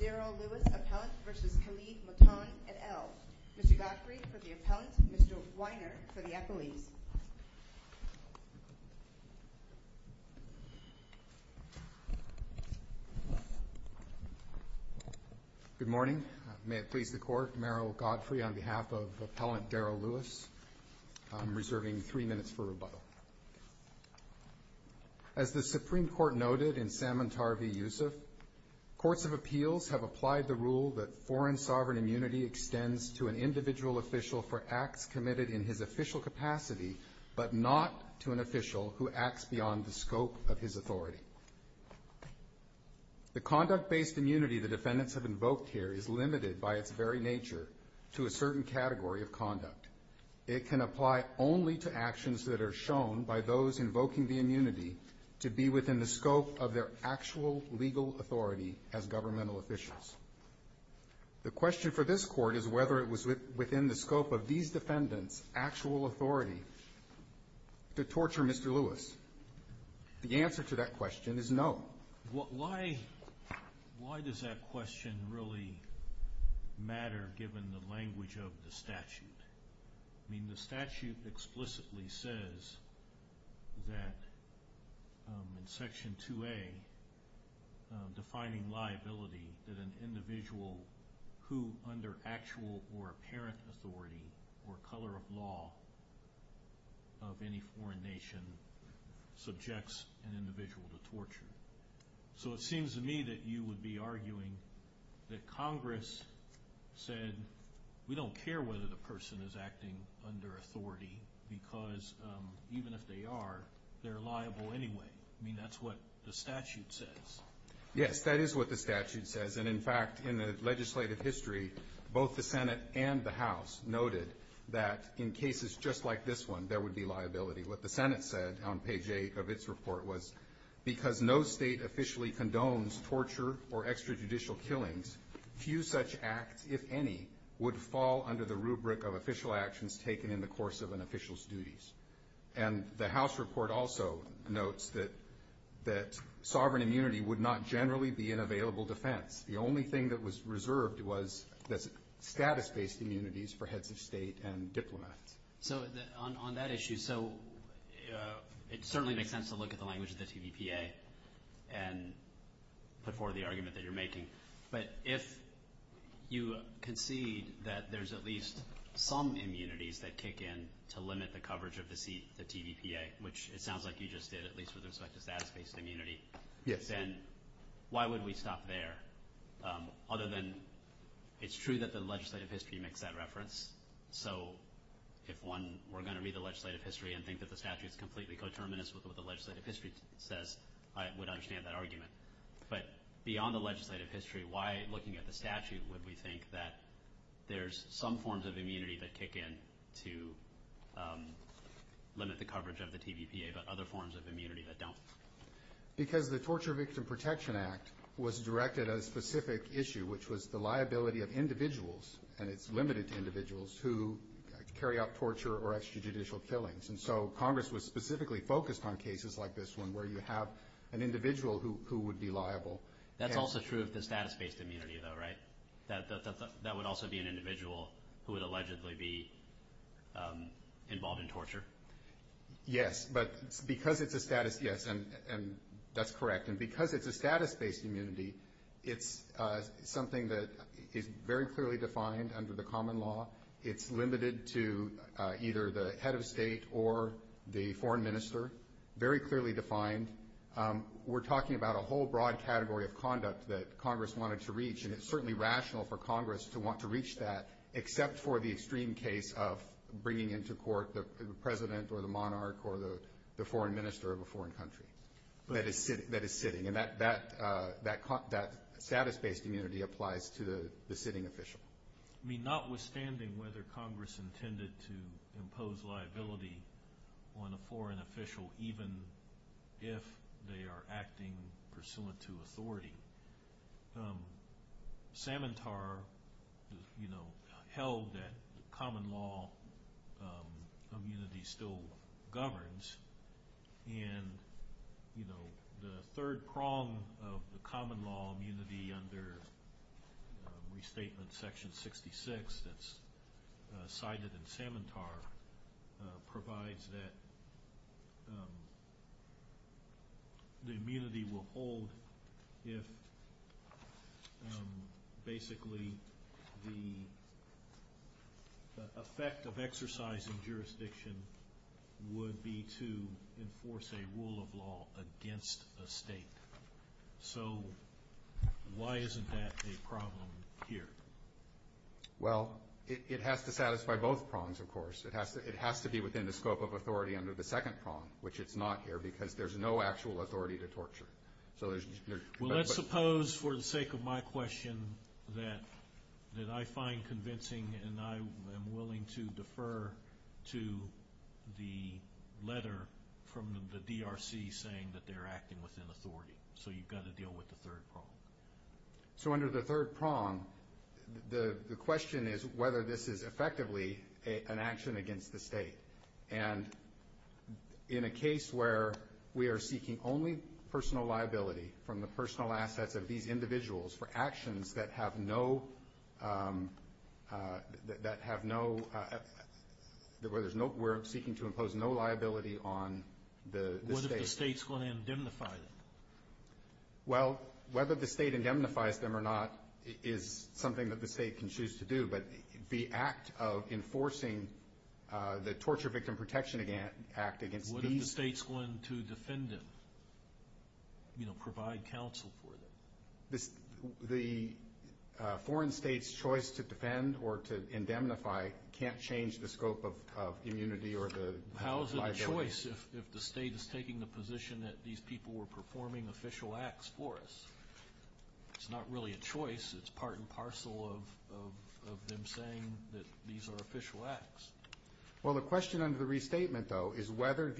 Daryl Lewis v. Kalev Mutond, et al. Mr. Godfrey for the appellant, Mr. Weiner for the appellees. Good morning. May it please the Court, Meryl Godfrey on behalf of Appellant Daryl Lewis. I'm reserving three minutes for rebuttal. As the Supreme Court noted in Samantar v. Yusuf, courts of appeals have applied the rule that foreign sovereign immunity extends to an individual official for acts committed in his official capacity, but not to an official who acts beyond the scope of his authority. The conduct-based immunity the defendants have invoked here is limited by its very nature to a certain category of conduct. It can apply only to actions that are shown by those invoking the immunity to be within the scope of their actual legal authority as governmental officials. The question for this Court is whether it was within the scope of these defendants' actual authority to torture Mr. Lewis. The answer to that question is no. Why does that question really matter, given the language of the statute? I mean, the statute explicitly says that in Section 2A, defining liability, that an individual who, under actual or apparent authority or color of law of any foreign nation, subjects an individual to torture. So it seems to me that you would be arguing that Congress said, we don't care whether the person is acting under authority, because even if they are, they're liable anyway. I mean, that's what the statute says. Yes, that is what the statute says. And, in fact, in the legislative history, both the Senate and the House noted that in cases just like this one, there would be liability. What the Senate said on page 8 of its report was, because no state officially condones torture or extrajudicial killings, few such acts, if any, would fall under the rubric of official actions taken in the course of an official's duties. And the House report also notes that sovereign immunity would not generally be an available defense. The only thing that was reserved was status-based immunities for heads of state and diplomats. So on that issue, it certainly makes sense to look at the language of the TVPA and put forward the argument that you're making. But if you concede that there's at least some immunities that kick in to limit the coverage of the TVPA, which it sounds like you just did, at least with respect to status-based immunity, then why would we stop there, other than it's true that the legislative history makes that reference. So if one were going to read the legislative history and think that the statute is completely coterminous with what the legislative history says, I would understand that argument. But beyond the legislative history, why, looking at the statute, would we think that there's some forms of immunity that kick in to limit the coverage of the TVPA, but other forms of immunity that don't? Because the Torture Victim Protection Act was directed at a specific issue, which was the liability of individuals, and it's limited to individuals, who carry out torture or extrajudicial killings. And so Congress was specifically focused on cases like this one, where you have an individual who would be liable. That's also true of the status-based immunity, though, right? That would also be an individual who would allegedly be involved in torture? Yes. But because it's a status, yes, and that's correct. And because it's a status-based immunity, it's something that is very clearly defined under the common law. It's limited to either the head of state or the foreign minister, very clearly defined. We're talking about a whole broad category of conduct that Congress wanted to reach, and it's certainly rational for Congress to want to reach that, except for the extreme case of bringing into court the president or the monarch or the foreign minister of a foreign country that is sitting. And that status-based immunity applies to the sitting official. I mean, notwithstanding whether Congress intended to impose liability on a foreign official, even if they are acting pursuant to authority, Samantar held that common law immunity still governs, and the third prong of the common law immunity under Restatement Section 66 that's cited in Samantar provides that the immunity will hold if basically the effect of exercising jurisdiction would be to enforce a rule of law against a state. So why isn't that a problem here? Well, it has to satisfy both prongs, of course. It has to be within the scope of authority under the second prong, which it's not here, because there's no actual authority to torture. Well, let's suppose for the sake of my question that I find convincing and I am willing to defer to the letter from the DRC saying that they're acting within authority, so you've got to deal with the third prong. So under the third prong, the question is whether this is effectively an action against the state. And in a case where we are seeking only personal liability from the personal assets of these individuals for actions that have no ‑‑ where we're seeking to impose no liability on the state. What if the state's going to indemnify them? Well, whether the state indemnifies them or not is something that the state can choose to do, but the act of enforcing the Torture Victim Protection Act against these ‑‑ What if the state's going to defend them, you know, provide counsel for them? The foreign state's choice to defend or to indemnify can't change the scope of immunity or the liability. How is it a choice if the state is taking the position that these people were performing official acts for us? It's not really a choice. It's part and parcel of them saying that these are official acts. Well, the question under the restatement, though, is whether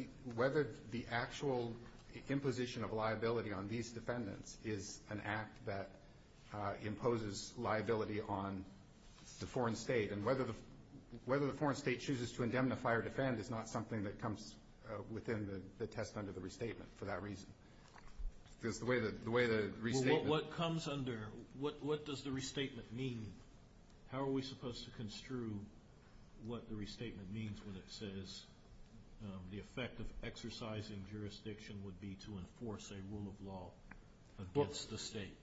the actual imposition of liability on these defendants is an act that imposes liability on the foreign state. And whether the foreign state chooses to indemnify or defend is not something that comes within the test under the restatement for that reason. Because the way the restatement ‑‑ Well, what comes under, what does the restatement mean? How are we supposed to construe what the restatement means when it says the effect of exercising jurisdiction would be to enforce a rule of law against the state?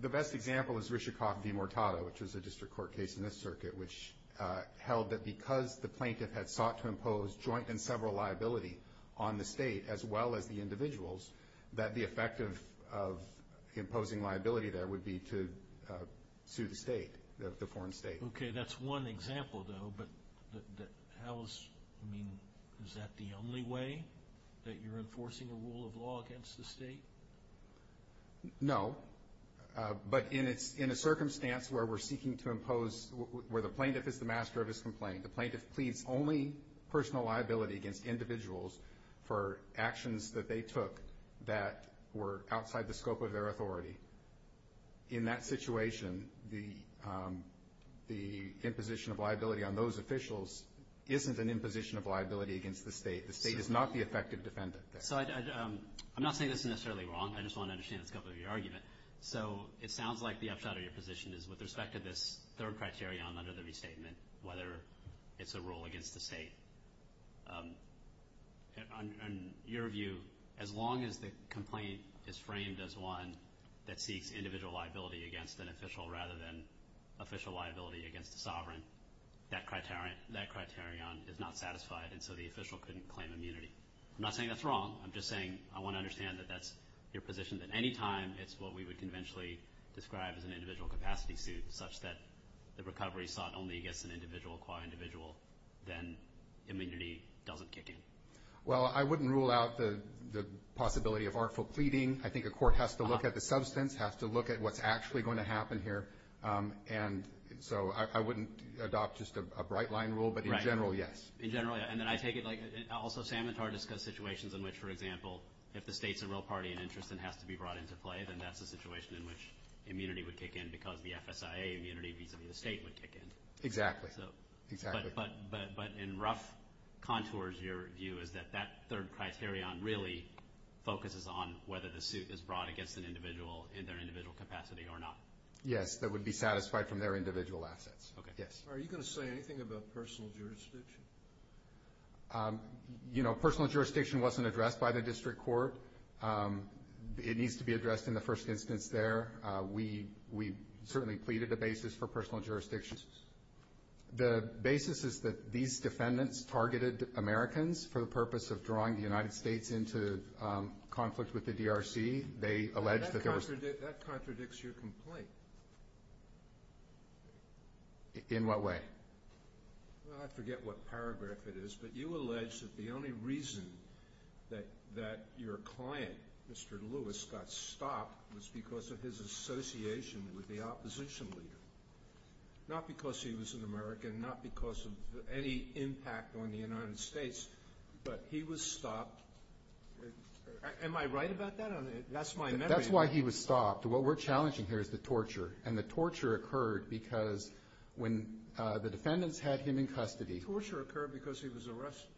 The best example is Rishikoff v. Mortada, which was a district court case in this circuit, which held that because the plaintiff had sought to impose joint and several liability on the state as well as the individuals, that the effect of imposing liability there would be to sue the state, the foreign state. Okay. That's one example, though. But how is ‑‑ I mean, is that the only way that you're enforcing a rule of law against the state? No. But in a circumstance where we're seeking to impose, where the plaintiff is the master of his complaint, the plaintiff pleads only personal liability against individuals for actions that they took that were outside the scope of their authority, in that situation the imposition of liability on those officials isn't an imposition of liability against the state. The state is not the effective defendant there. So I'm not saying this is necessarily wrong. I just want to understand the scope of your argument. So it sounds like the upshot of your position is with respect to this third criterion under the restatement, whether it's a rule against the state. In your view, as long as the complaint is framed as one that seeks individual liability against an official rather than official liability against a sovereign, that criterion is not satisfied, and so the official couldn't claim immunity. I'm not saying that's wrong. I'm just saying I want to understand that that's your position, that any time it's what we would conventionally describe as an individual capacity suit, such that the recovery sought only against an individual qua individual, then immunity doesn't kick in. Well, I wouldn't rule out the possibility of artful pleading. I think a court has to look at the substance, has to look at what's actually going to happen here. And so I wouldn't adopt just a bright-line rule, but in general, yes. In general, yeah. And then I take it like also Samantar discussed situations in which, for example, if the state's a real party in interest and has to be brought into play, then that's a situation in which immunity would kick in because the FSIA immunity vis-a-vis the state would kick in. Exactly. Exactly. But in rough contours, your view is that that third criterion really focuses on whether the suit is brought against an individual in their individual capacity or not. Yes, that would be satisfied from their individual assets. Okay. Yes. Are you going to say anything about personal jurisdiction? You know, personal jurisdiction wasn't addressed by the district court. It needs to be addressed in the first instance there. We certainly pleaded a basis for personal jurisdiction. The basis is that these defendants targeted Americans for the purpose of drawing the United States into conflict with the DRC. They alleged that there was no ---- That contradicts your complaint. In what way? I forget what paragraph it is, but you allege that the only reason that your client, Mr. Lewis, got stopped was because of his association with the opposition leader, not because he was an American, not because of any impact on the United States, but he was stopped. Am I right about that? That's my memory. That's why he was stopped. What we're challenging here is the torture. And the torture occurred because when the defendants had him in custody ---- The torture occurred because he was arrested.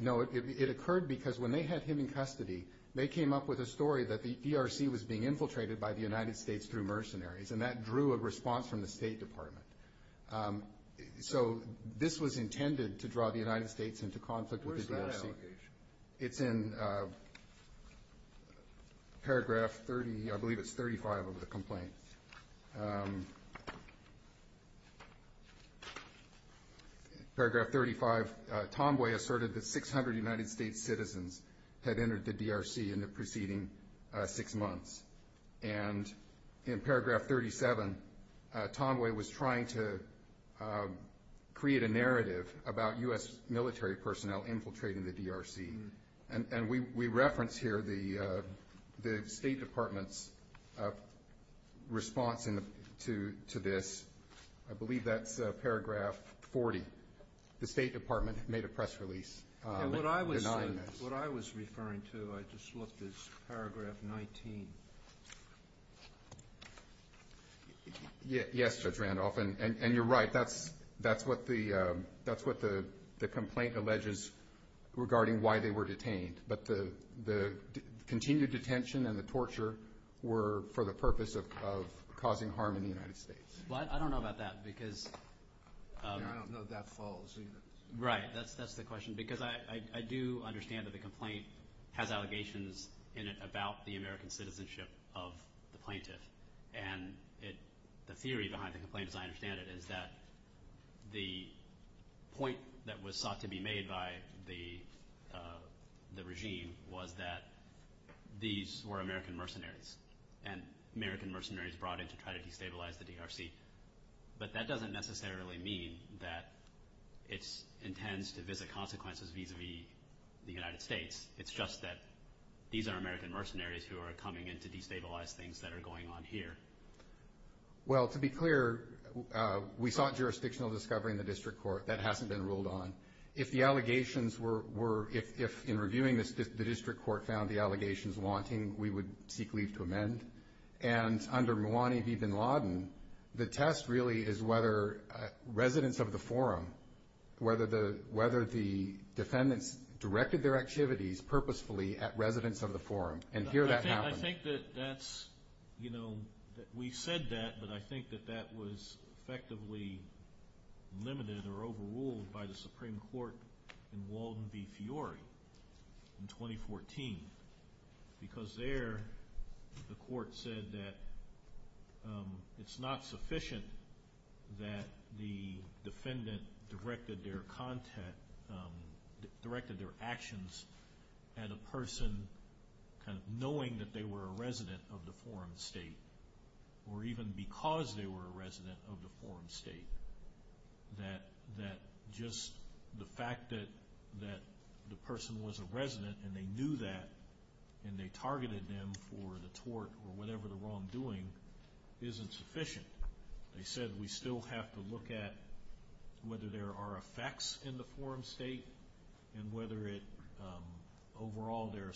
No, it occurred because when they had him in custody, they came up with a story that the DRC was being infiltrated by the United States through mercenaries, and that drew a response from the State Department. So this was intended to draw the United States into conflict with the DRC. Where is that allocation? It's in paragraph 30, I believe it's 35 of the complaint. Paragraph 35, Tomway asserted that 600 United States citizens had entered the DRC in the preceding six months. And in paragraph 37, Tomway was trying to create a narrative about U.S. military personnel infiltrating the DRC. And we reference here the State Department's response to this. I believe that's paragraph 40. The State Department made a press release denying this. What I was referring to, I just looked, is paragraph 19. Yes, Judge Randolph, and you're right. That's what the complaint alleges regarding why they were detained. But the continued detention and the torture were for the purpose of causing harm in the United States. Well, I don't know about that because ---- I don't know if that follows either. Right, that's the question. Because I do understand that the complaint has allegations in it about the American citizenship of the plaintiff. And the theory behind the complaint, as I understand it, is that the point that was sought to be made by the regime was that these were American mercenaries, and American mercenaries brought in to try to destabilize the DRC. But that doesn't necessarily mean that it intends to visit consequences vis-à-vis the United States. It's just that these are American mercenaries who are coming in to destabilize things that are going on here. Well, to be clear, we sought jurisdictional discovery in the district court. That hasn't been ruled on. If the allegations were ---- if, in reviewing this, the district court found the allegations wanting, we would seek leave to amend. And under Mouwani v. Bin Laden, the test really is whether residents of the forum, whether the defendants directed their activities purposefully at residents of the forum. And here that happens. I think that that's, you know, we said that, but I think that that was effectively limited or overruled by the Supreme Court in Walden v. Fiore in 2014. Because there, the court said that it's not sufficient that the defendant directed their actions at a person kind of knowing that they were a resident of the forum state, or even because they were a resident of the forum state. That just the fact that the person was a resident and they knew that and they targeted them for the tort or whatever the wrongdoing isn't sufficient. They said we still have to look at whether there are effects in the forum state and whether it, overall, there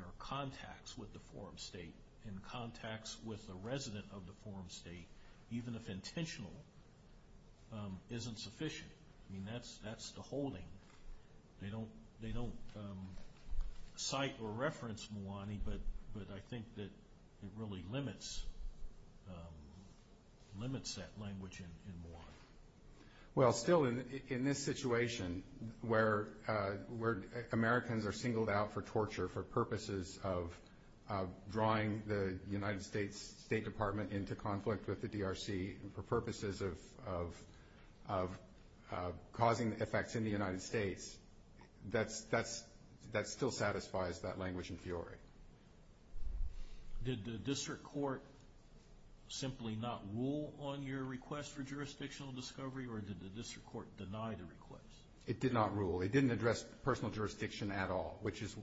are contacts with the forum state and contacts with the resident of the forum state, even if intentional, isn't sufficient. I mean, that's the holding. They don't cite or reference Mouwani, but I think that it really limits that language in Mouwani. Well, still, in this situation where Americans are singled out for torture for purposes of drawing the United States State Department into conflict with the DRC for purposes of causing effects in the United States, that still satisfies that language in Fiore. Did the district court simply not rule on your request for jurisdictional discovery, or did the district court deny the request? It did not rule. It didn't address personal jurisdiction at all, which is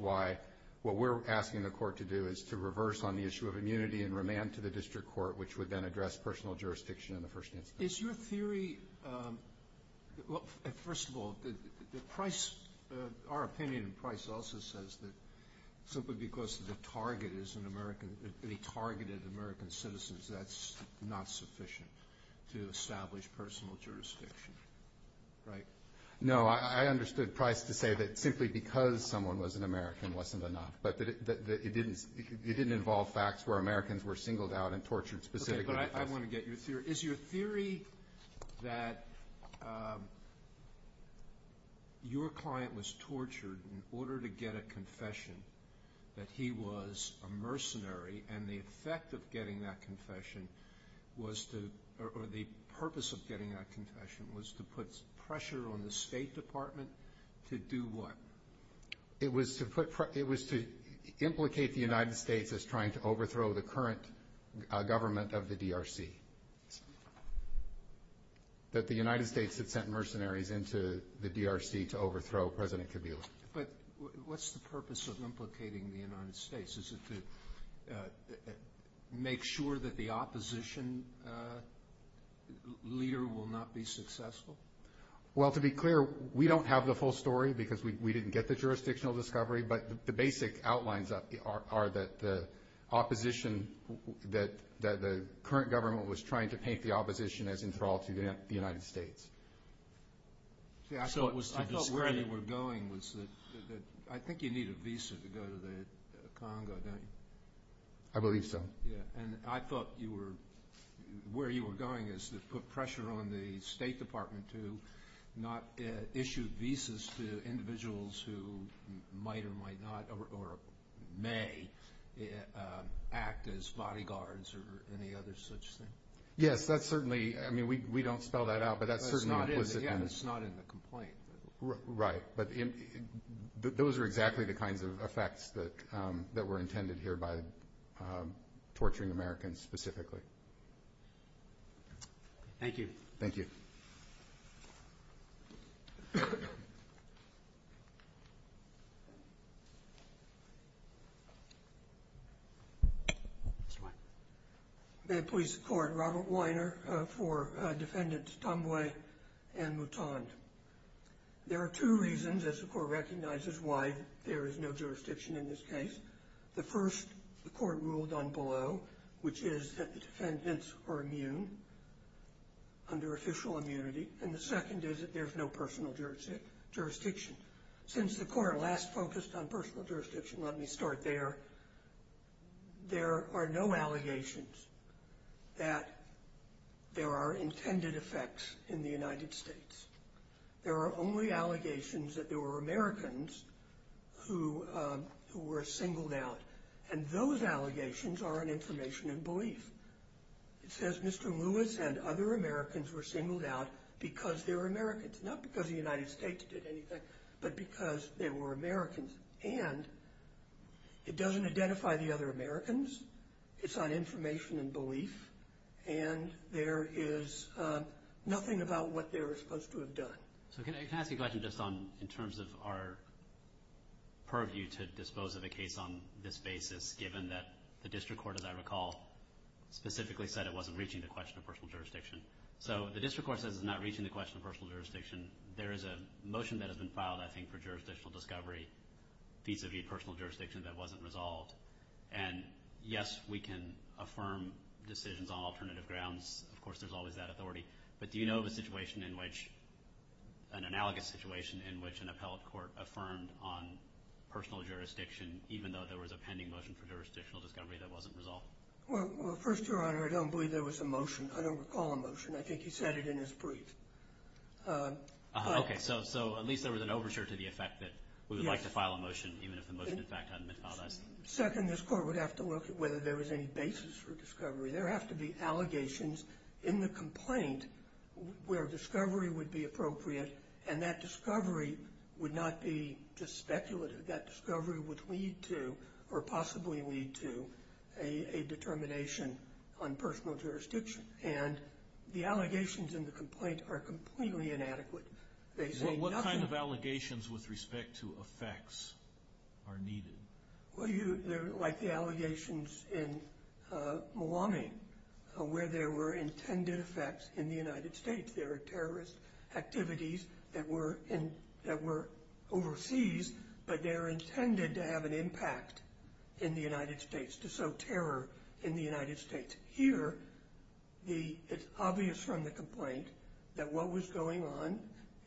why what we're asking the court to do is to reverse on the issue of immunity and remand to the district court, which would then address personal jurisdiction in the first instance. Is your theory, well, first of all, the Price, our opinion, Price also says that simply because the target is an American, they targeted American citizens, that's not sufficient to establish personal jurisdiction, right? No, I understood Price to say that simply because someone was an American wasn't enough, but it didn't involve facts where Americans were singled out and tortured specifically. Okay, but I want to get your theory. Is your theory that your client was tortured in order to get a confession, that he was a mercenary, and the purpose of getting that confession was to put pressure on the State Department to do what? It was to implicate the United States as trying to overthrow the current government of the DRC, that the United States had sent mercenaries into the DRC to overthrow President Kabila. But what's the purpose of implicating the United States? Is it to make sure that the opposition leader will not be successful? Well, to be clear, we don't have the full story because we didn't get the jurisdictional discovery, but the basic outlines are that the opposition, that the current government was trying to paint the opposition as enthralled to the United States. See, I thought where you were going was that I think you need a visa to go to the Congo, don't you? I believe so. Yeah, and I thought where you were going is to put pressure on the State Department to not issue visas to individuals who might or might not or may act as bodyguards or any other such thing. Yes, that's certainly, I mean, we don't spell that out, but that's certainly implicit. Yeah, and it's not in the complaint. Right, but those are exactly the kinds of effects that were intended here by torturing Americans specifically. Thank you. Thank you. Mr. Weiner. May it please the Court, Robert Weiner for Defendants Tambwe and Mutande. There are two reasons, as the Court recognizes, why there is no jurisdiction in this case. The first, the Court ruled on below, which is that the defendants are immune, under official immunity, and the second is that there's no personal jurisdiction. Since the Court last focused on personal jurisdiction, let me start there. There are no allegations that there are intended effects in the United States. There are only allegations that there were Americans who were singled out, and those allegations are an information in belief. It says Mr. Lewis and other Americans were singled out because they were Americans, not because the United States did anything, but because they were Americans, and it doesn't identify the other Americans. It's not information in belief, and there is nothing about what they were supposed to have done. So can I ask a question just in terms of our purview to dispose of a case on this basis, given that the District Court, as I recall, specifically said it wasn't reaching the question of personal jurisdiction. So the District Court says it's not reaching the question of personal jurisdiction. There is a motion that has been filed, I think, for jurisdictional discovery vis-a-vis personal jurisdiction that wasn't resolved, and yes, we can affirm decisions on alternative grounds. Of course, there's always that authority, but do you know of a situation in which, an analogous situation in which an appellate court affirmed on personal jurisdiction, even though there was a pending motion for jurisdictional discovery that wasn't resolved? Well, first, Your Honor, I don't believe there was a motion. I don't recall a motion. I think he said it in his brief. Okay, so at least there was an overture to the effect that we would like to file a motion, even if the motion, in fact, hadn't been filed. Second, this Court would have to look at whether there was any basis for discovery. There have to be allegations in the complaint where discovery would be appropriate, and that discovery would not be just speculative. That discovery would lead to or possibly lead to a determination on personal jurisdiction, and the allegations in the complaint are completely inadequate. They say nothing. Well, what kind of allegations with respect to effects are needed? Well, like the allegations in Malawi, where there were intended effects in the United States. There are terrorist activities that were overseas, but they're intended to have an impact in the United States, to sow terror in the United States. Here, it's obvious from the complaint that what was going on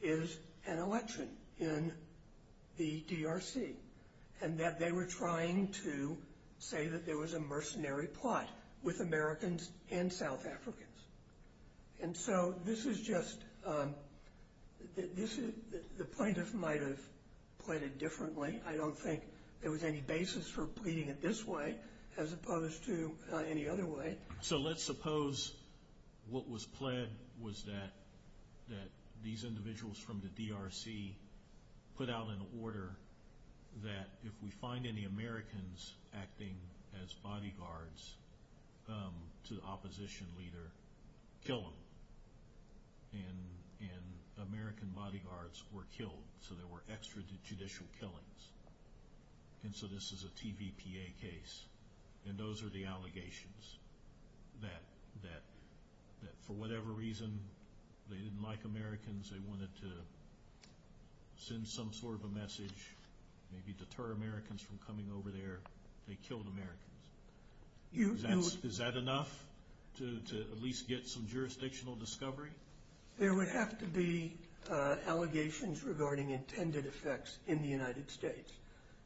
is an election in the DRC, and that they were trying to say that there was a mercenary plot with Americans and South Africans. And so this is just the plaintiff might have pleaded differently. I don't think there was any basis for pleading it this way as opposed to any other way. So let's suppose what was pled was that these individuals from the DRC put out an order that if we find any Americans acting as bodyguards to the opposition leader, kill them. And American bodyguards were killed, so there were extrajudicial killings. And so this is a TVPA case, and those are the allegations that for whatever reason, they didn't like Americans, they wanted to send some sort of a message, maybe deter Americans from coming over there. They killed Americans. Is that enough to at least get some jurisdictional discovery? There would have to be allegations regarding intended effects in the United States.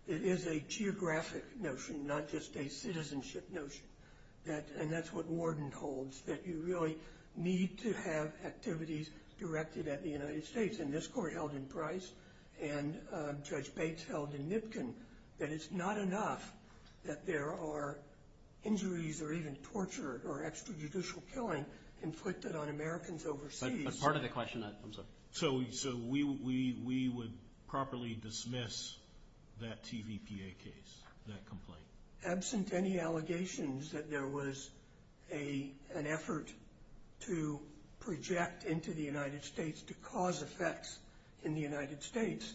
It is a geographic notion, not just a citizenship notion. And that's what Warden holds, that you really need to have activities directed at the United States. And this court held in Price, and Judge Bates held in Nipkin, that it's not enough that there are injuries or even torture or extrajudicial killing inflicted on Americans overseas. But part of the question that comes up. So we would properly dismiss that TVPA case, that complaint? Absent any allegations that there was an effort to project into the United States to cause effects in the United States,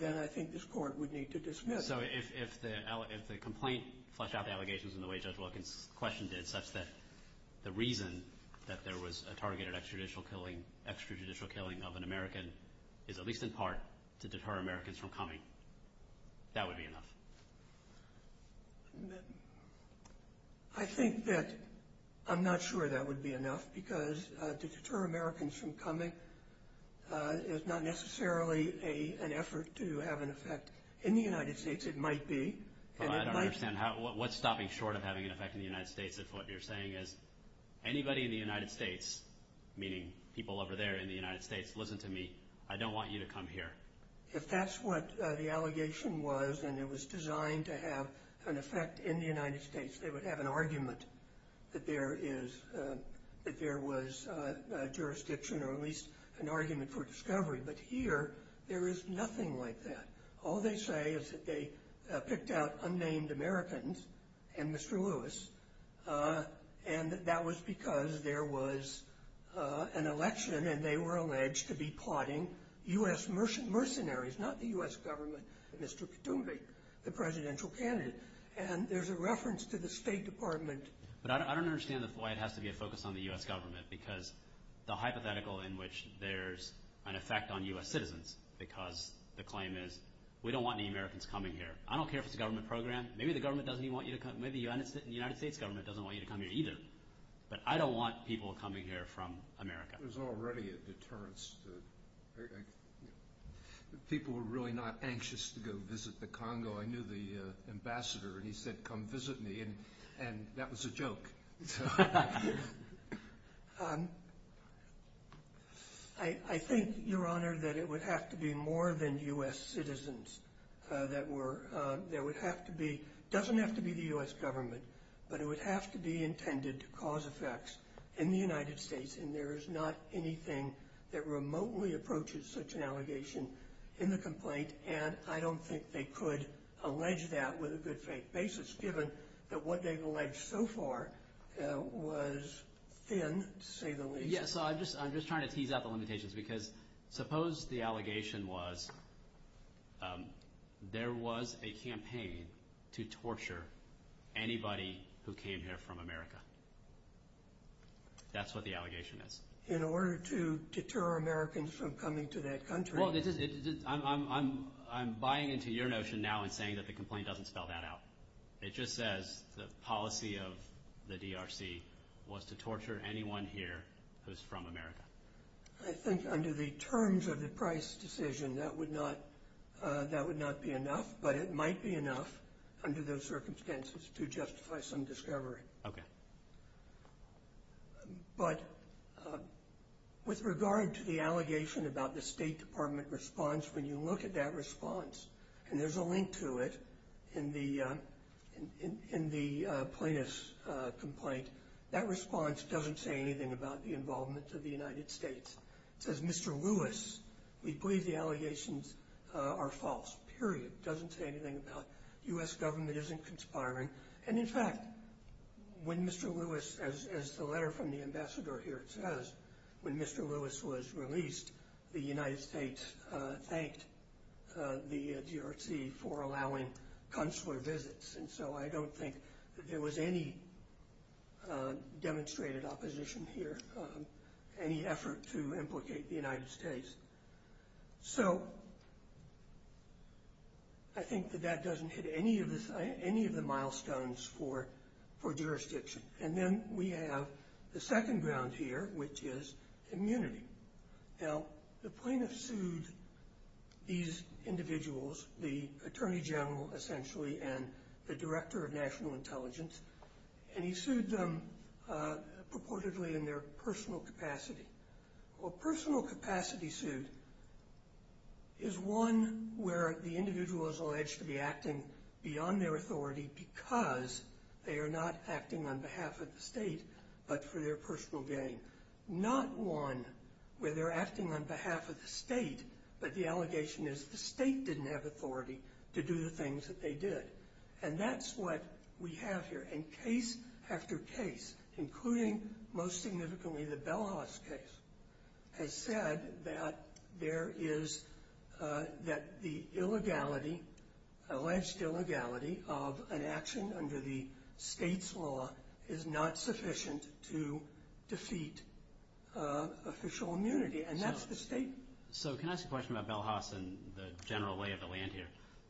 then I think this court would need to dismiss. So if the complaint fleshed out the allegations in the way Judge Wilkins' question did, such that the reason that there was a targeted extrajudicial killing of an American is at least in part to deter Americans from coming, that would be enough? I think that I'm not sure that would be enough because to deter Americans from coming is not necessarily an effort to have an effect in the United States. It might be. I don't understand. What's stopping short of having an effect in the United States if what you're saying is anybody in the United States, meaning people over there in the United States, listen to me, I don't want you to come here? If that's what the allegation was and it was designed to have an effect in the United States, they would have an argument that there was jurisdiction or at least an argument for discovery. But here there is nothing like that. All they say is that they picked out unnamed Americans and Mr. Lewis, and that was because there was an election and they were alleged to be plotting U.S. mercenaries, not the U.S. government, and Mr. Katoomba, the presidential candidate. And there's a reference to the State Department. But I don't understand why it has to be a focus on the U.S. government because the hypothetical in which there's an effect on U.S. citizens because the claim is we don't want any Americans coming here. I don't care if it's a government program. Maybe the government doesn't even want you to come. Maybe the United States government doesn't want you to come here either. But I don't want people coming here from America. There's already a deterrence. People were really not anxious to go visit the Congo. I knew the ambassador, and he said, come visit me, and that was a joke. I think, Your Honor, that it would have to be more than U.S. citizens. It doesn't have to be the U.S. government, but it would have to be intended to cause effects in the United States, and there is not anything that remotely approaches such an allegation in the complaint. And I don't think they could allege that with a good faith basis given that what they've alleged so far was thin, to say the least. Yes, I'm just trying to tease out the limitations because suppose the allegation was there was a campaign to torture anybody who came here from America. That's what the allegation is. In order to deter Americans from coming to that country. Well, I'm buying into your notion now and saying that the complaint doesn't spell that out. It just says the policy of the DRC was to torture anyone here who's from America. I think under the terms of the Price decision, that would not be enough, but it might be enough under those circumstances to justify some discovery. Okay. But with regard to the allegation about the State Department response, when you look at that response, and there's a link to it in the plaintiff's complaint, that response doesn't say anything about the involvement of the United States. It says, Mr. Lewis, we believe the allegations are false, period. It doesn't say anything about U.S. government isn't conspiring. And, in fact, when Mr. Lewis, as the letter from the ambassador here says, when Mr. Lewis was released, the United States thanked the DRC for allowing consular visits. And so I don't think that there was any demonstrated opposition here, any effort to implicate the United States. So I think that that doesn't hit any of the milestones for jurisdiction. And then we have the second ground here, which is immunity. Now, the plaintiff sued these individuals, the Attorney General essentially and the Director of National Intelligence, and he sued them purportedly in their personal capacity. A personal capacity suit is one where the individual is alleged to be acting beyond their authority because they are not acting on behalf of the state but for their personal gain. Not one where they're acting on behalf of the state, but the allegation is the state didn't have authority to do the things that they did. And that's what we have here. And case after case, including most significantly the Bell House case, has said that there is, that the illegality, alleged illegality of an action under the state's law is not sufficient to defeat official immunity. And that's the state. So can I ask a question about Bell House and the general lay of the land here?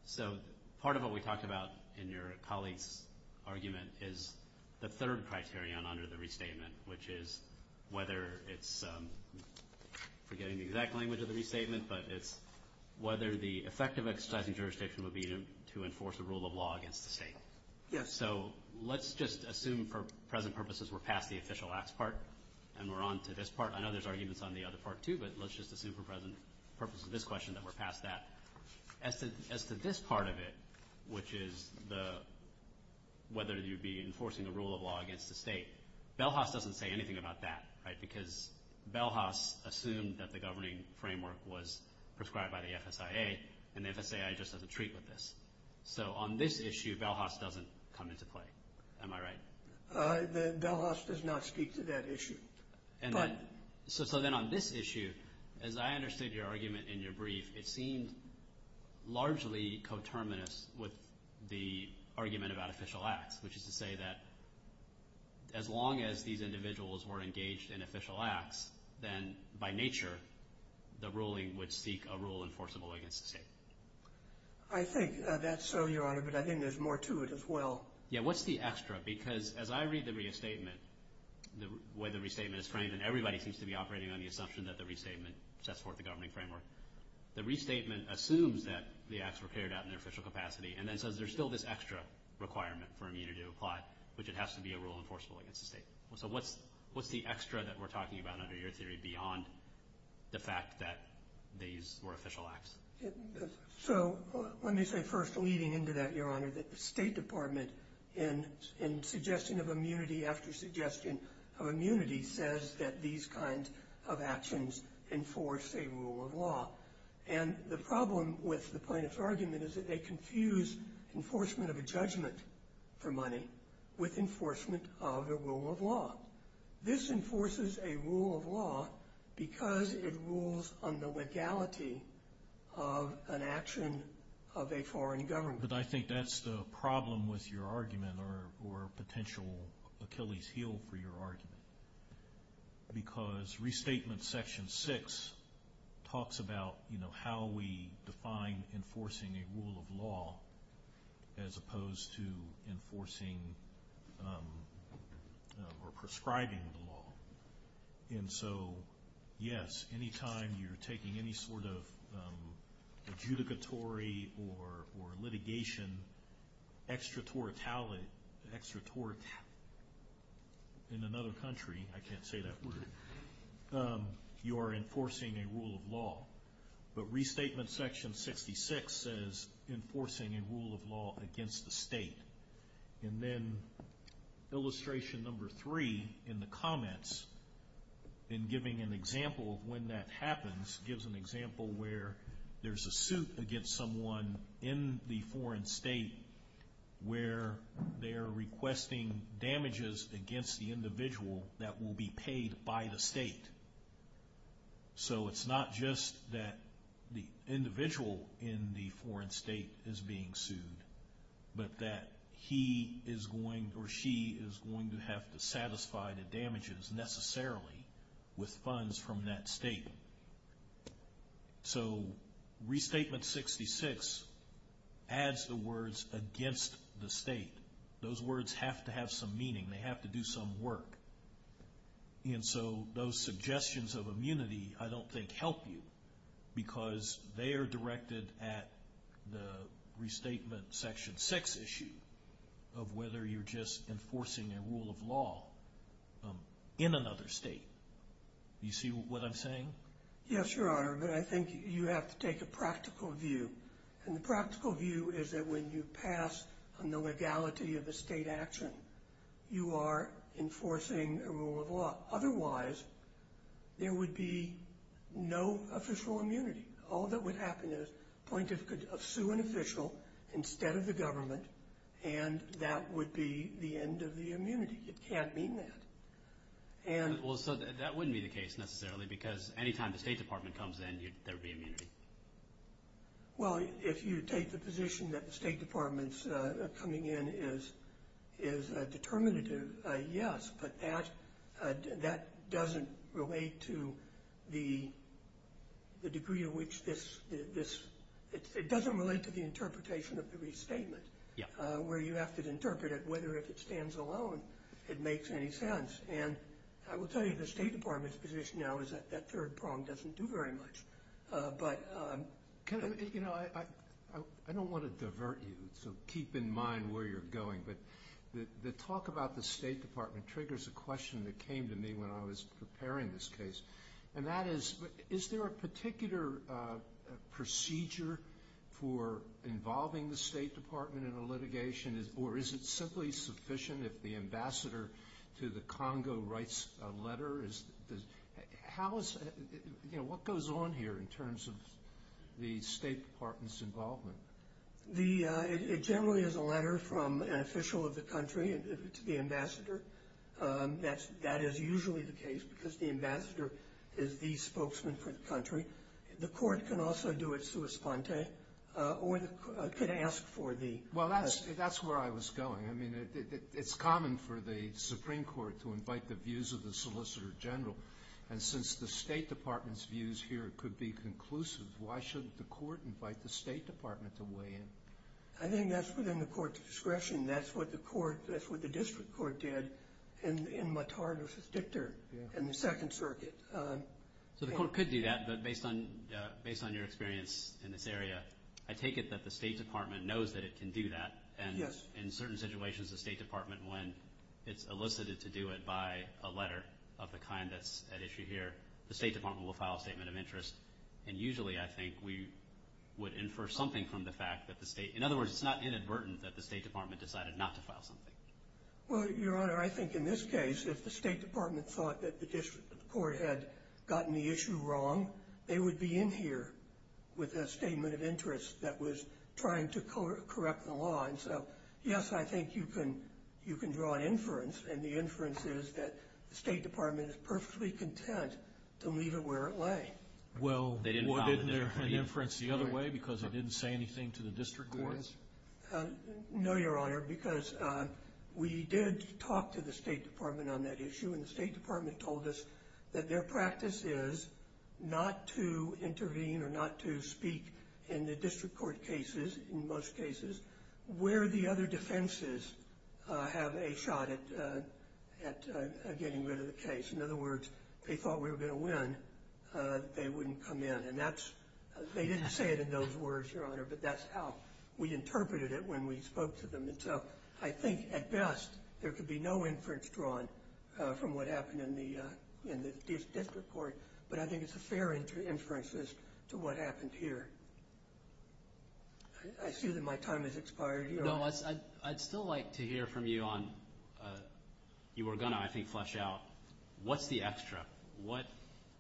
So part of what we talked about in your colleague's argument is the third criterion under the restatement, which is whether it's, forgetting the exact language of the restatement, but it's whether the effective exercising jurisdiction would be to enforce a rule of law against the state. Yes. So let's just assume for present purposes we're past the official acts part and we're on to this part. I know there's arguments on the other part too, but let's just assume for present purposes of this question that we're past that. As to this part of it, which is whether you'd be enforcing a rule of law against the state, Bell House doesn't say anything about that, right, because Bell House assumed that the governing framework was prescribed by the FSIA, and the FSIA just doesn't treat with this. So on this issue, Bell House doesn't come into play. Am I right? Bell House does not speak to that issue. So then on this issue, as I understood your argument in your brief, it seemed largely coterminous with the argument about official acts, which is to say that as long as these individuals were engaged in official acts, then by nature the ruling would seek a rule enforceable against the state. I think that's so, Your Honor, but I think there's more to it as well. Yeah, what's the extra? Because as I read the restatement, the way the restatement is framed, and everybody seems to be operating on the assumption that the restatement sets forth the governing framework, the restatement assumes that the acts were carried out in their official capacity and then says there's still this extra requirement for immunity to apply, which it has to be a rule enforceable against the state. So what's the extra that we're talking about under your theory beyond the fact that these were official acts? So let me say first, leading into that, Your Honor, that the State Department in suggestion of immunity after suggestion of immunity And the problem with the plaintiff's argument is that they confuse enforcement of a judgment for money with enforcement of a rule of law. This enforces a rule of law because it rules on the legality of an action of a foreign government. But I think that's the problem with your argument, or potential Achilles' heel for your argument, because Restatement Section 6 talks about how we define enforcing a rule of law as opposed to enforcing or prescribing the law. And so, yes, any time you're taking any sort of adjudicatory or litigation, extraterritorial, in another country, I can't say that word, you are enforcing a rule of law. But Restatement Section 66 says enforcing a rule of law against the state. And then illustration number three in the comments, in giving an example of when that happens, this gives an example where there's a suit against someone in the foreign state where they're requesting damages against the individual that will be paid by the state. So it's not just that the individual in the foreign state is being sued, but that he is going, or she is going to have to satisfy the damages necessarily with funds from that state. So Restatement 66 adds the words against the state. Those words have to have some meaning. They have to do some work. And so those suggestions of immunity I don't think help you because they are directed at the Restatement Section 6 issue of whether you're just enforcing a rule of law in another state. Do you see what I'm saying? Yes, Your Honor, but I think you have to take a practical view. And the practical view is that when you pass on the legality of a state action, you are enforcing a rule of law. Otherwise, there would be no official immunity. All that would happen is a plaintiff could sue an official instead of the government, and that would be the end of the immunity. It can't mean that. Well, so that wouldn't be the case necessarily because any time the State Department comes in, there would be immunity. Well, if you take the position that the State Department's coming in is determinative, yes, but that doesn't relate to the degree to which this – it doesn't relate to the interpretation of the Restatement where you have to interpret it whether if it stands alone it makes any sense. And I will tell you the State Department's position now is that that third prong doesn't do very much. I don't want to divert you, so keep in mind where you're going, but the talk about the State Department triggers a question that came to me when I was preparing this case, and that is, is there a particular procedure for involving the State Department in a litigation or is it simply sufficient if the ambassador to the Congo writes a letter? What goes on here in terms of the State Department's involvement? It generally is a letter from an official of the country to the ambassador. That is usually the case because the ambassador is the spokesman for the country. The court can also do it sua sponte or could ask for the – Well, that's where I was going. I mean, it's common for the Supreme Court to invite the views of the Solicitor General, and since the State Department's views here could be conclusive, why shouldn't the court invite the State Department to weigh in? I think that's within the court's discretion. That's what the district court did in Matard versus Dictor in the Second Circuit. So the court could do that, but based on your experience in this area, I take it that the State Department knows that it can do that, and in certain situations the State Department, when it's elicited to do it by a letter of the kind that's at issue here, the State Department will file a statement of interest. And usually, I think, we would infer something from the fact that the State – in other words, it's not inadvertent that the State Department decided not to file something. Well, Your Honor, I think in this case, if the State Department thought that the district court had gotten the issue wrong, they would be in here with a statement of interest that was trying to correct the law. And so, yes, I think you can draw an inference, and the inference is that the State Department is perfectly content to leave it where it lay. Well, wasn't there an inference the other way because it didn't say anything to the district courts? No, Your Honor, because we did talk to the State Department on that issue, and the State Department told us that their practice is not to intervene or not to speak in the district court cases, in most cases, where the other defenses have a shot at getting rid of the case. In other words, if they thought we were going to win, they wouldn't come in. And that's – they didn't say it in those words, Your Honor, but that's how we interpreted it when we spoke to them. And so I think, at best, there could be no inference drawn from what happened in the district court, but I think it's a fair inference as to what happened here. I assume that my time has expired, Your Honor. No, I'd still like to hear from you on – you were going to, I think, flesh out what's the extra. What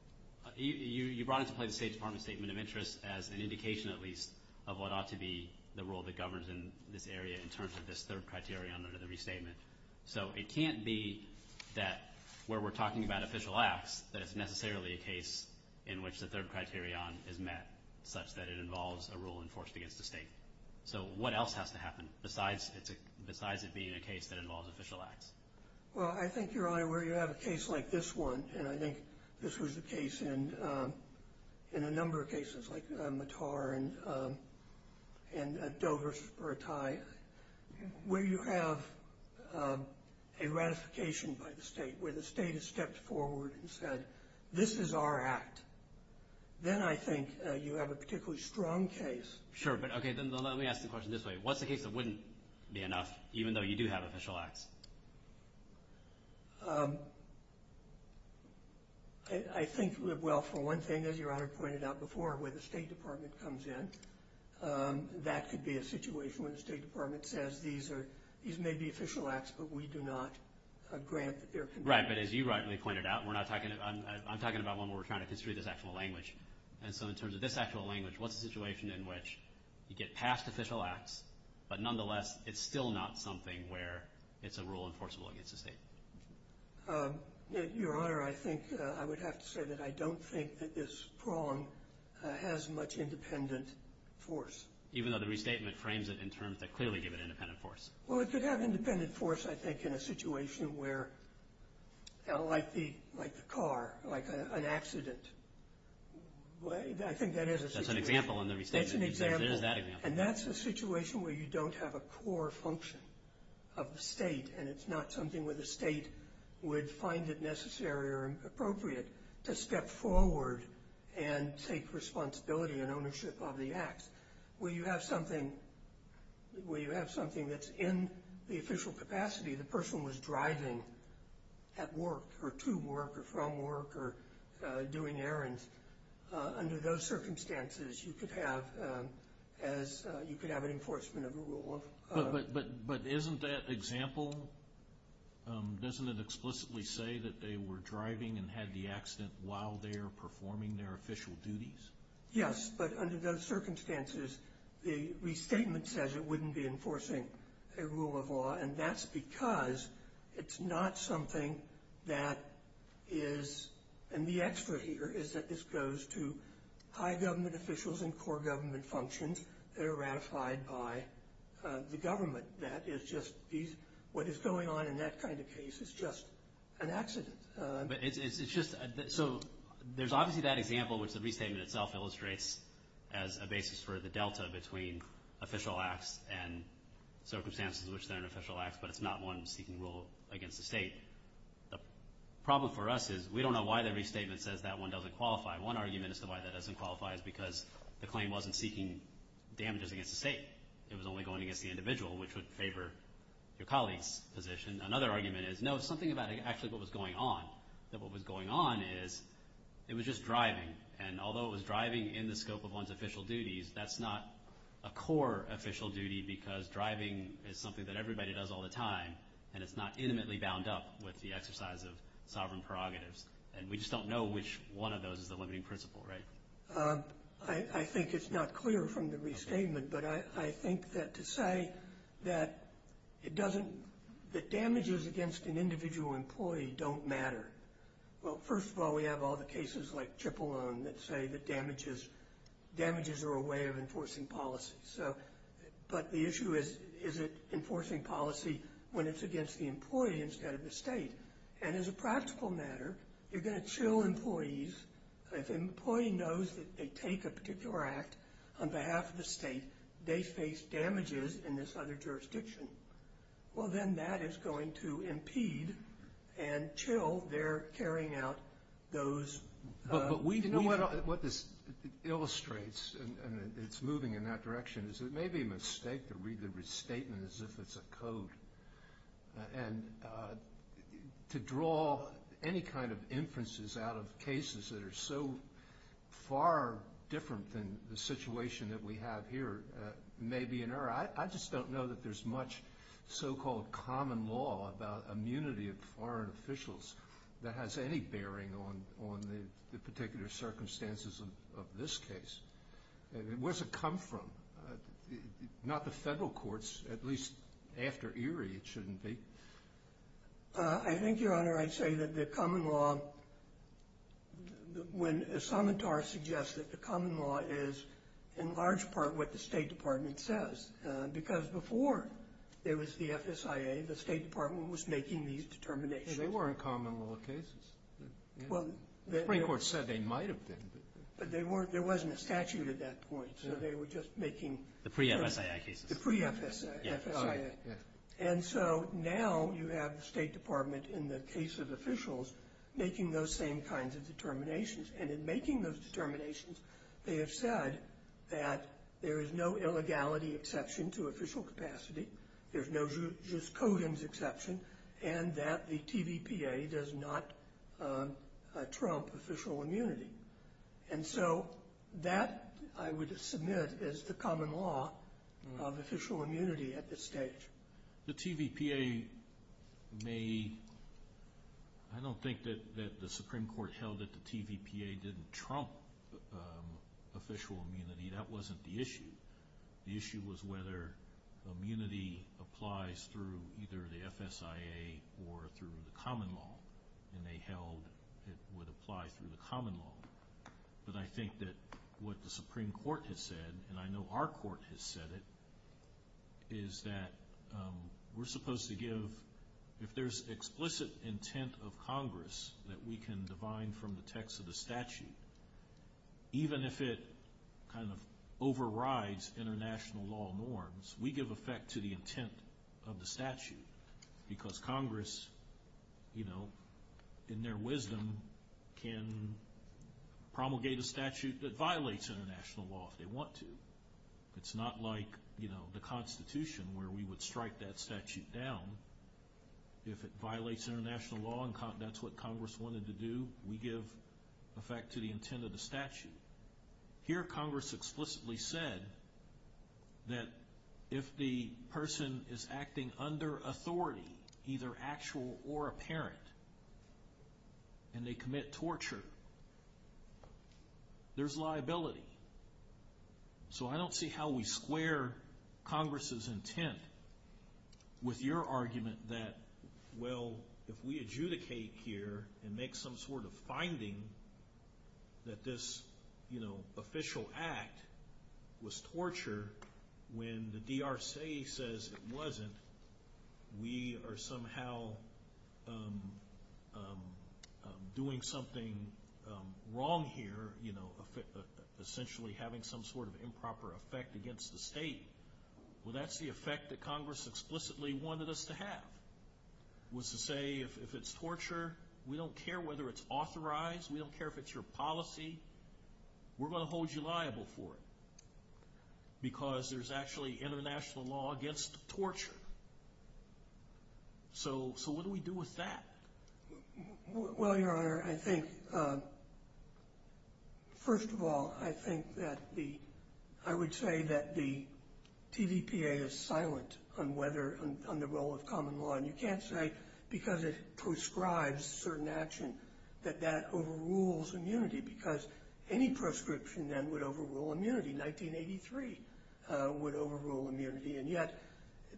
– you brought into play the State Department's statement of interest as an indication, at least, of what ought to be the rule that governs in this area in terms of this third criterion under the restatement. So it can't be that where we're talking about official acts, that it's necessarily a case in which the third criterion is met, such that it involves a rule enforced against the state. So what else has to happen besides it being a case that involves official acts? Well, I think, Your Honor, where you have a case like this one, and I think this was the case in a number of cases, like Matar and Dover or Attai, where you have a ratification by the state, where the state has stepped forward and said, this is our act, then I think you have a particularly strong case. Sure, but okay, then let me ask the question this way. What's the case that wouldn't be enough, even though you do have official acts? I think, well, for one thing, as Your Honor pointed out before, where the State Department comes in, that could be a situation where the State Department says, these may be official acts, but we do not grant their consent. Right, but as you rightly pointed out, I'm talking about one where we're trying to construe this actual language. And so in terms of this actual language, what's the situation in which you get past official acts, but nonetheless it's still not something where it's a rule enforceable against the state? Your Honor, I think I would have to say that I don't think that this prong has much independent force. Even though the restatement frames it in terms that clearly give it independent force? Well, it could have independent force, I think, in a situation where, like the car, like an accident. I think that is a situation. That's an example in the restatement. It's an example. It is that example. And that's a situation where you don't have a core function of the state, and it's not something where the state would find it necessary or appropriate to step forward and take responsibility and ownership of the acts. When you have something that's in the official capacity, the person was driving at work or to work or from work or doing errands. Under those circumstances, you could have an enforcement of the rule. But isn't that example, doesn't it explicitly say that they were driving and had the accident while they were performing their official duties? Yes, but under those circumstances, the restatement says it wouldn't be enforcing a rule of law, and that's because it's not something that is, and the extra here is that this goes to high government officials and core government functions that are ratified by the government. That is just, what is going on in that kind of case is just an accident. But it's just, so there's obviously that example, which the restatement itself illustrates as a basis for the delta between official acts and circumstances in which they're an official act, but it's not one seeking rule against the state. The problem for us is we don't know why the restatement says that one doesn't qualify. One argument as to why that doesn't qualify is because the claim wasn't seeking damages against the state. It was only going against the individual, which would favor your colleague's position. Another argument is, no, it's something about actually what was going on, that what was going on is it was just driving, and although it was driving in the scope of one's official duties, that's not a core official duty because driving is something that everybody does all the time, and it's not intimately bound up with the exercise of sovereign prerogatives, and we just don't know which one of those is the limiting principle, right? I think it's not clear from the restatement, but I think that to say that damages against an individual employee don't matter, well, first of all, we have all the cases like Chipolone that say that damages are a way of enforcing policy, but the issue is is it enforcing policy when it's against the employee instead of the state, and as a practical matter, you're going to chill employees. If an employee knows that they take a particular act on behalf of the state, they face damages in this other jurisdiction. Well, then that is going to impede and chill their carrying out those. But what this illustrates, and it's moving in that direction, is it may be a mistake to read the restatement as if it's a code and to draw any kind of inferences out of cases that are so far different than the situation that we have here may be an error. I just don't know that there's much so-called common law about immunity of foreign officials that has any bearing on the particular circumstances of this case. Where does it come from? Not the federal courts, at least after Erie it shouldn't be. I think, Your Honor, I'd say that the common law, when Asamatar suggests that the common law is in large part what the State Department says, because before there was the FSIA, the State Department was making these determinations. They weren't common law cases. The Supreme Court said they might have been. But there wasn't a statute at that point, so they were just making— The pre-FSIA cases. The pre-FSIA. And so now you have the State Department, in the case of officials, making those same kinds of determinations. And in making those determinations, they have said that there is no illegality exception to official capacity, there's no just codems exception, and that the TVPA does not trump official immunity. And so that, I would submit, is the common law of official immunity at this stage. The TVPA may—I don't think that the Supreme Court held that the TVPA didn't trump official immunity. That wasn't the issue. The issue was whether immunity applies through either the FSIA or through the common law. And they held it would apply through the common law. But I think that what the Supreme Court has said, and I know our court has said it, is that we're supposed to give—if there's explicit intent of Congress that we can divine from the text of the statute, even if it kind of overrides international law norms, we give effect to the intent of the statute. Because Congress, you know, in their wisdom, can promulgate a statute that violates international law if they want to. It's not like, you know, the Constitution, where we would strike that statute down if it violates international law and that's what Congress wanted to do. We give effect to the intent of the statute. Here, Congress explicitly said that if the person is acting under authority, either actual or apparent, and they commit torture, there's liability. So I don't see how we square Congress's intent with your argument that, well, if we adjudicate here and make some sort of finding that this, you know, official act was torture when the DRC says it wasn't, we are somehow doing something wrong here, you know, essentially having some sort of improper effect against the state. Well, that's the effect that Congress explicitly wanted us to have, was to say if it's torture, we don't care whether it's authorized, we don't care if it's your policy, we're going to hold you liable for it because there's actually international law against torture. So what do we do with that? Well, Your Honor, I think, first of all, I think that the – I would say that the TVPA is silent on whether – on the role of common law. And you can't say because it proscribes certain action that that overrules immunity because any proscription then would overrule immunity. 1983 would overrule immunity. And yet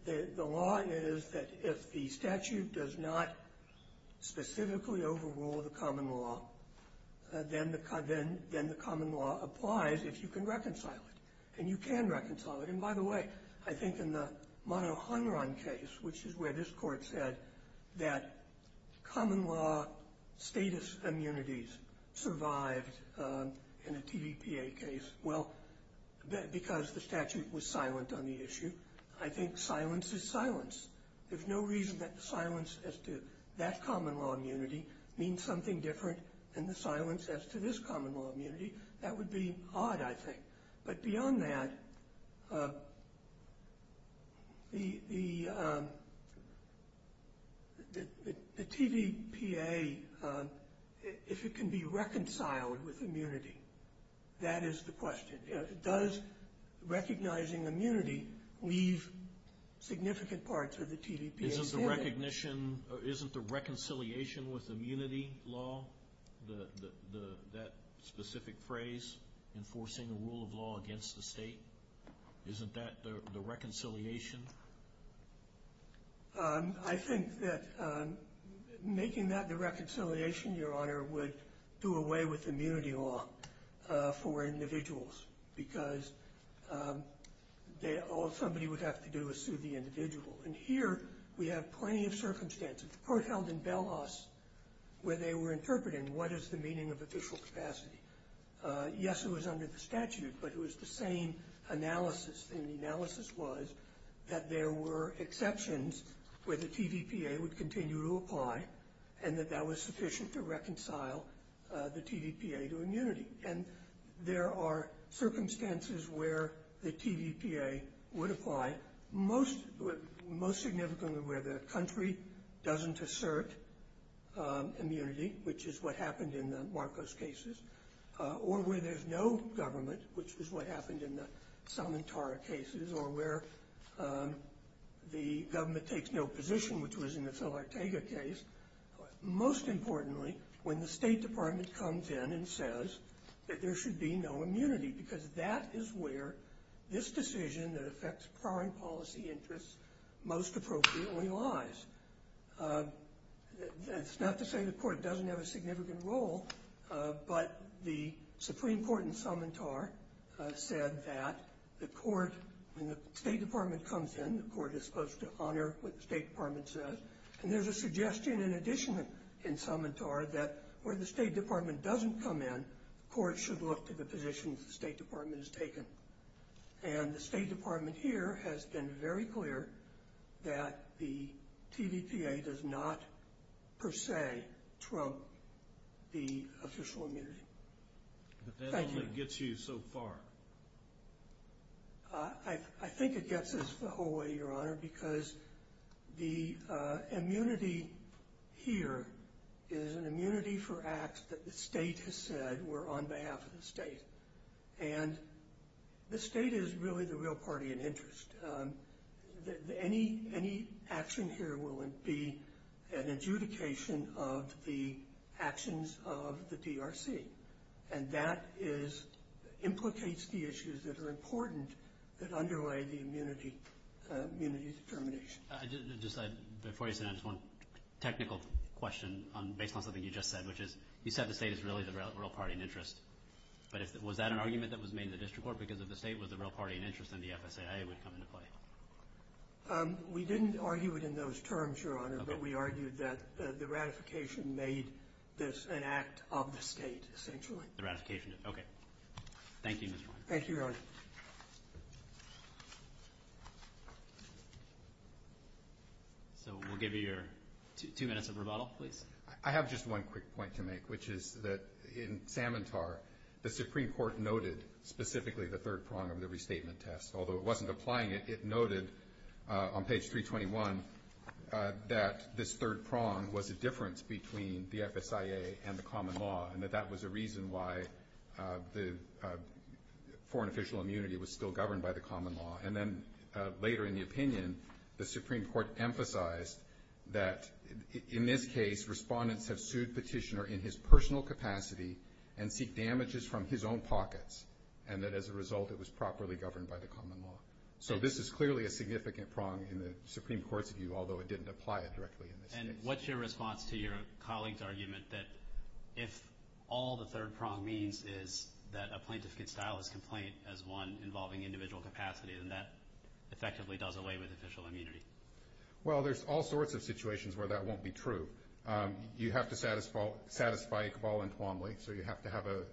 the law is that if the statute does not specifically overrule the common law, then the common law applies if you can reconcile it. And you can reconcile it. And, by the way, I think in the Manoharan case, which is where this Court said that common law status immunities survived in a TVPA case, well, because the statute was silent on the issue, I think silence is silence. There's no reason that the silence as to that common law immunity means something different than the silence as to this common law immunity. That would be odd, I think. But beyond that, the TVPA, if it can be reconciled with immunity, that is the question. Does recognizing immunity leave significant parts of the TVPA? Isn't the reconciliation with immunity law, that specific phrase, enforcing a rule of law against the state, isn't that the reconciliation? I think that making that the reconciliation, Your Honor, would do away with immunity law for individuals, because all somebody would have to do is sue the individual. And here we have plenty of circumstances. The court held in Belos where they were interpreting what is the meaning of official capacity. Yes, it was under the statute, but it was the same analysis. And the analysis was that there were exceptions where the TVPA would continue to apply and that that was sufficient to reconcile the TVPA to immunity. And there are circumstances where the TVPA would apply, most significantly where the country doesn't assert immunity, which is what happened in the Marcos cases, or where there's no government, which is what happened in the Salmentara cases, or where the government takes no position, which was in the Phil Arteaga case. Most importantly, when the State Department comes in and says that there should be no immunity, because that is where this decision that affects foreign policy interests most appropriately lies. That's not to say the court doesn't have a significant role, but the Supreme Court in Salmentara said that the court, when the State Department comes in, the court is supposed to honor what the State Department says. And there's a suggestion in addition in Salmentara that where the State Department doesn't come in, courts should look to the positions the State Department has taken. And the State Department here has been very clear that the TVPA does not per se trope the official immunity. Thank you. But that's all that gets you so far. I think it gets us the whole way, Your Honor, because the immunity here is an immunity for acts that the State has said were on behalf of the State. And the State is really the real party in interest. Any action here will be an adjudication of the actions of the DRC, and that implicates the issues that are important that underlay the immunity determination. Before you say that, just one technical question based on something you just said, which is you said the State is really the real party in interest. But was that an argument that was made in the district court because if the State was the real party in interest, then the FSAA would come into play? We didn't argue it in those terms, Your Honor, but we argued that the ratification made this an act of the State essentially. The ratification. Okay. Thank you, Mr. Weiner. Thank you, Your Honor. So we'll give you your two minutes of rebuttal, please. I have just one quick point to make, which is that in Samantar, the Supreme Court noted specifically the third prong of the restatement test. Although it wasn't applying it, it noted on page 321 that this third prong was a difference between the FSAA and the common law and that that was a reason why the foreign official immunity was still governed by the common law. And then later in the opinion, the Supreme Court emphasized that in this case, respondents have sued petitioner in his personal capacity and seek damages from his own pockets and that as a result it was properly governed by the common law. So this is clearly a significant prong in the Supreme Court's view, although it didn't apply it directly in this case. And what's your response to your colleague's argument that if all the third prong means is that a plaintiff can style his complaint as one involving individual capacity, then that effectively does away with official immunity? Well, there's all sorts of situations where that won't be true. You have to satisfy a cabal entremly, so you have to have a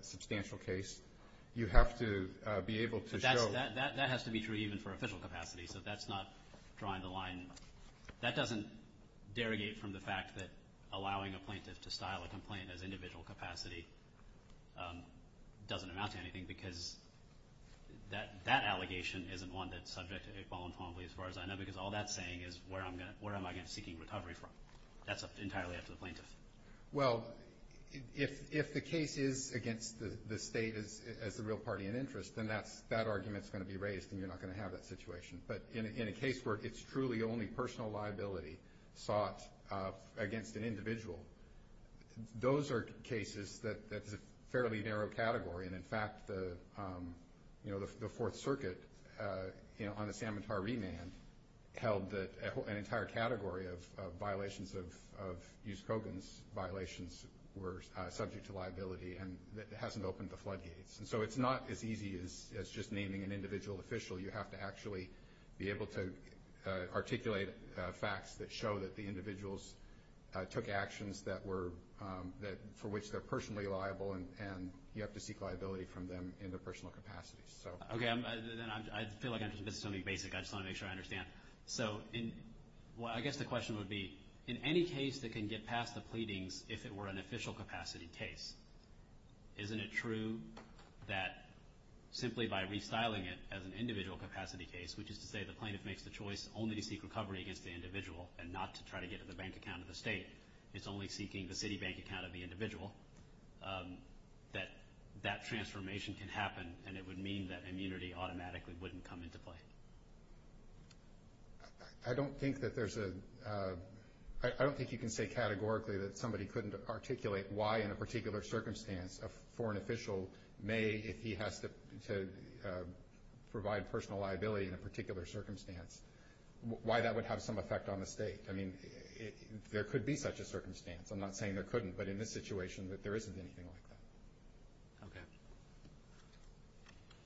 substantial case. You have to be able to show. But that has to be true even for official capacity, so that's not drawing the line. And that doesn't derogate from the fact that allowing a plaintiff to style a complaint as individual capacity doesn't amount to anything because that allegation isn't one that's subject voluntarily as far as I know because all that's saying is where am I seeking recovery from? That's entirely up to the plaintiff. Well, if the case is against the state as the real party in interest, then that argument's going to be raised and you're not going to have that situation. But in a case where it's truly only personal liability sought against an individual, those are cases that is a fairly narrow category. And, in fact, the Fourth Circuit on the Samantar Remand held that an entire category of violations of Hughes-Coggan's violations were subject to liability and it hasn't opened the floodgates. And so it's not as easy as just naming an individual official. You have to actually be able to articulate facts that show that the individuals took actions for which they're personally liable and you have to seek liability from them in their personal capacity. Okay, then I feel like I'm just missing something basic. I just want to make sure I understand. So I guess the question would be, in any case that can get past the pleadings, if it were an official capacity case, isn't it true that simply by restyling it as an individual capacity case, which is to say the plaintiff makes the choice only to seek recovery against the individual and not to try to get to the bank account of the state, it's only seeking the city bank account of the individual, that that transformation can happen and it would mean that immunity automatically wouldn't come into play? I don't think that there's a – I don't think you can say categorically that somebody couldn't articulate why in a particular circumstance a foreign official may, if he has to provide personal liability in a particular circumstance, why that would have some effect on the state. I mean, there could be such a circumstance. I'm not saying there couldn't, but in this situation there isn't anything like that. Okay.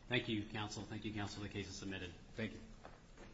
Thank you, counsel. Thank you, counsel. The case is submitted. Thank you.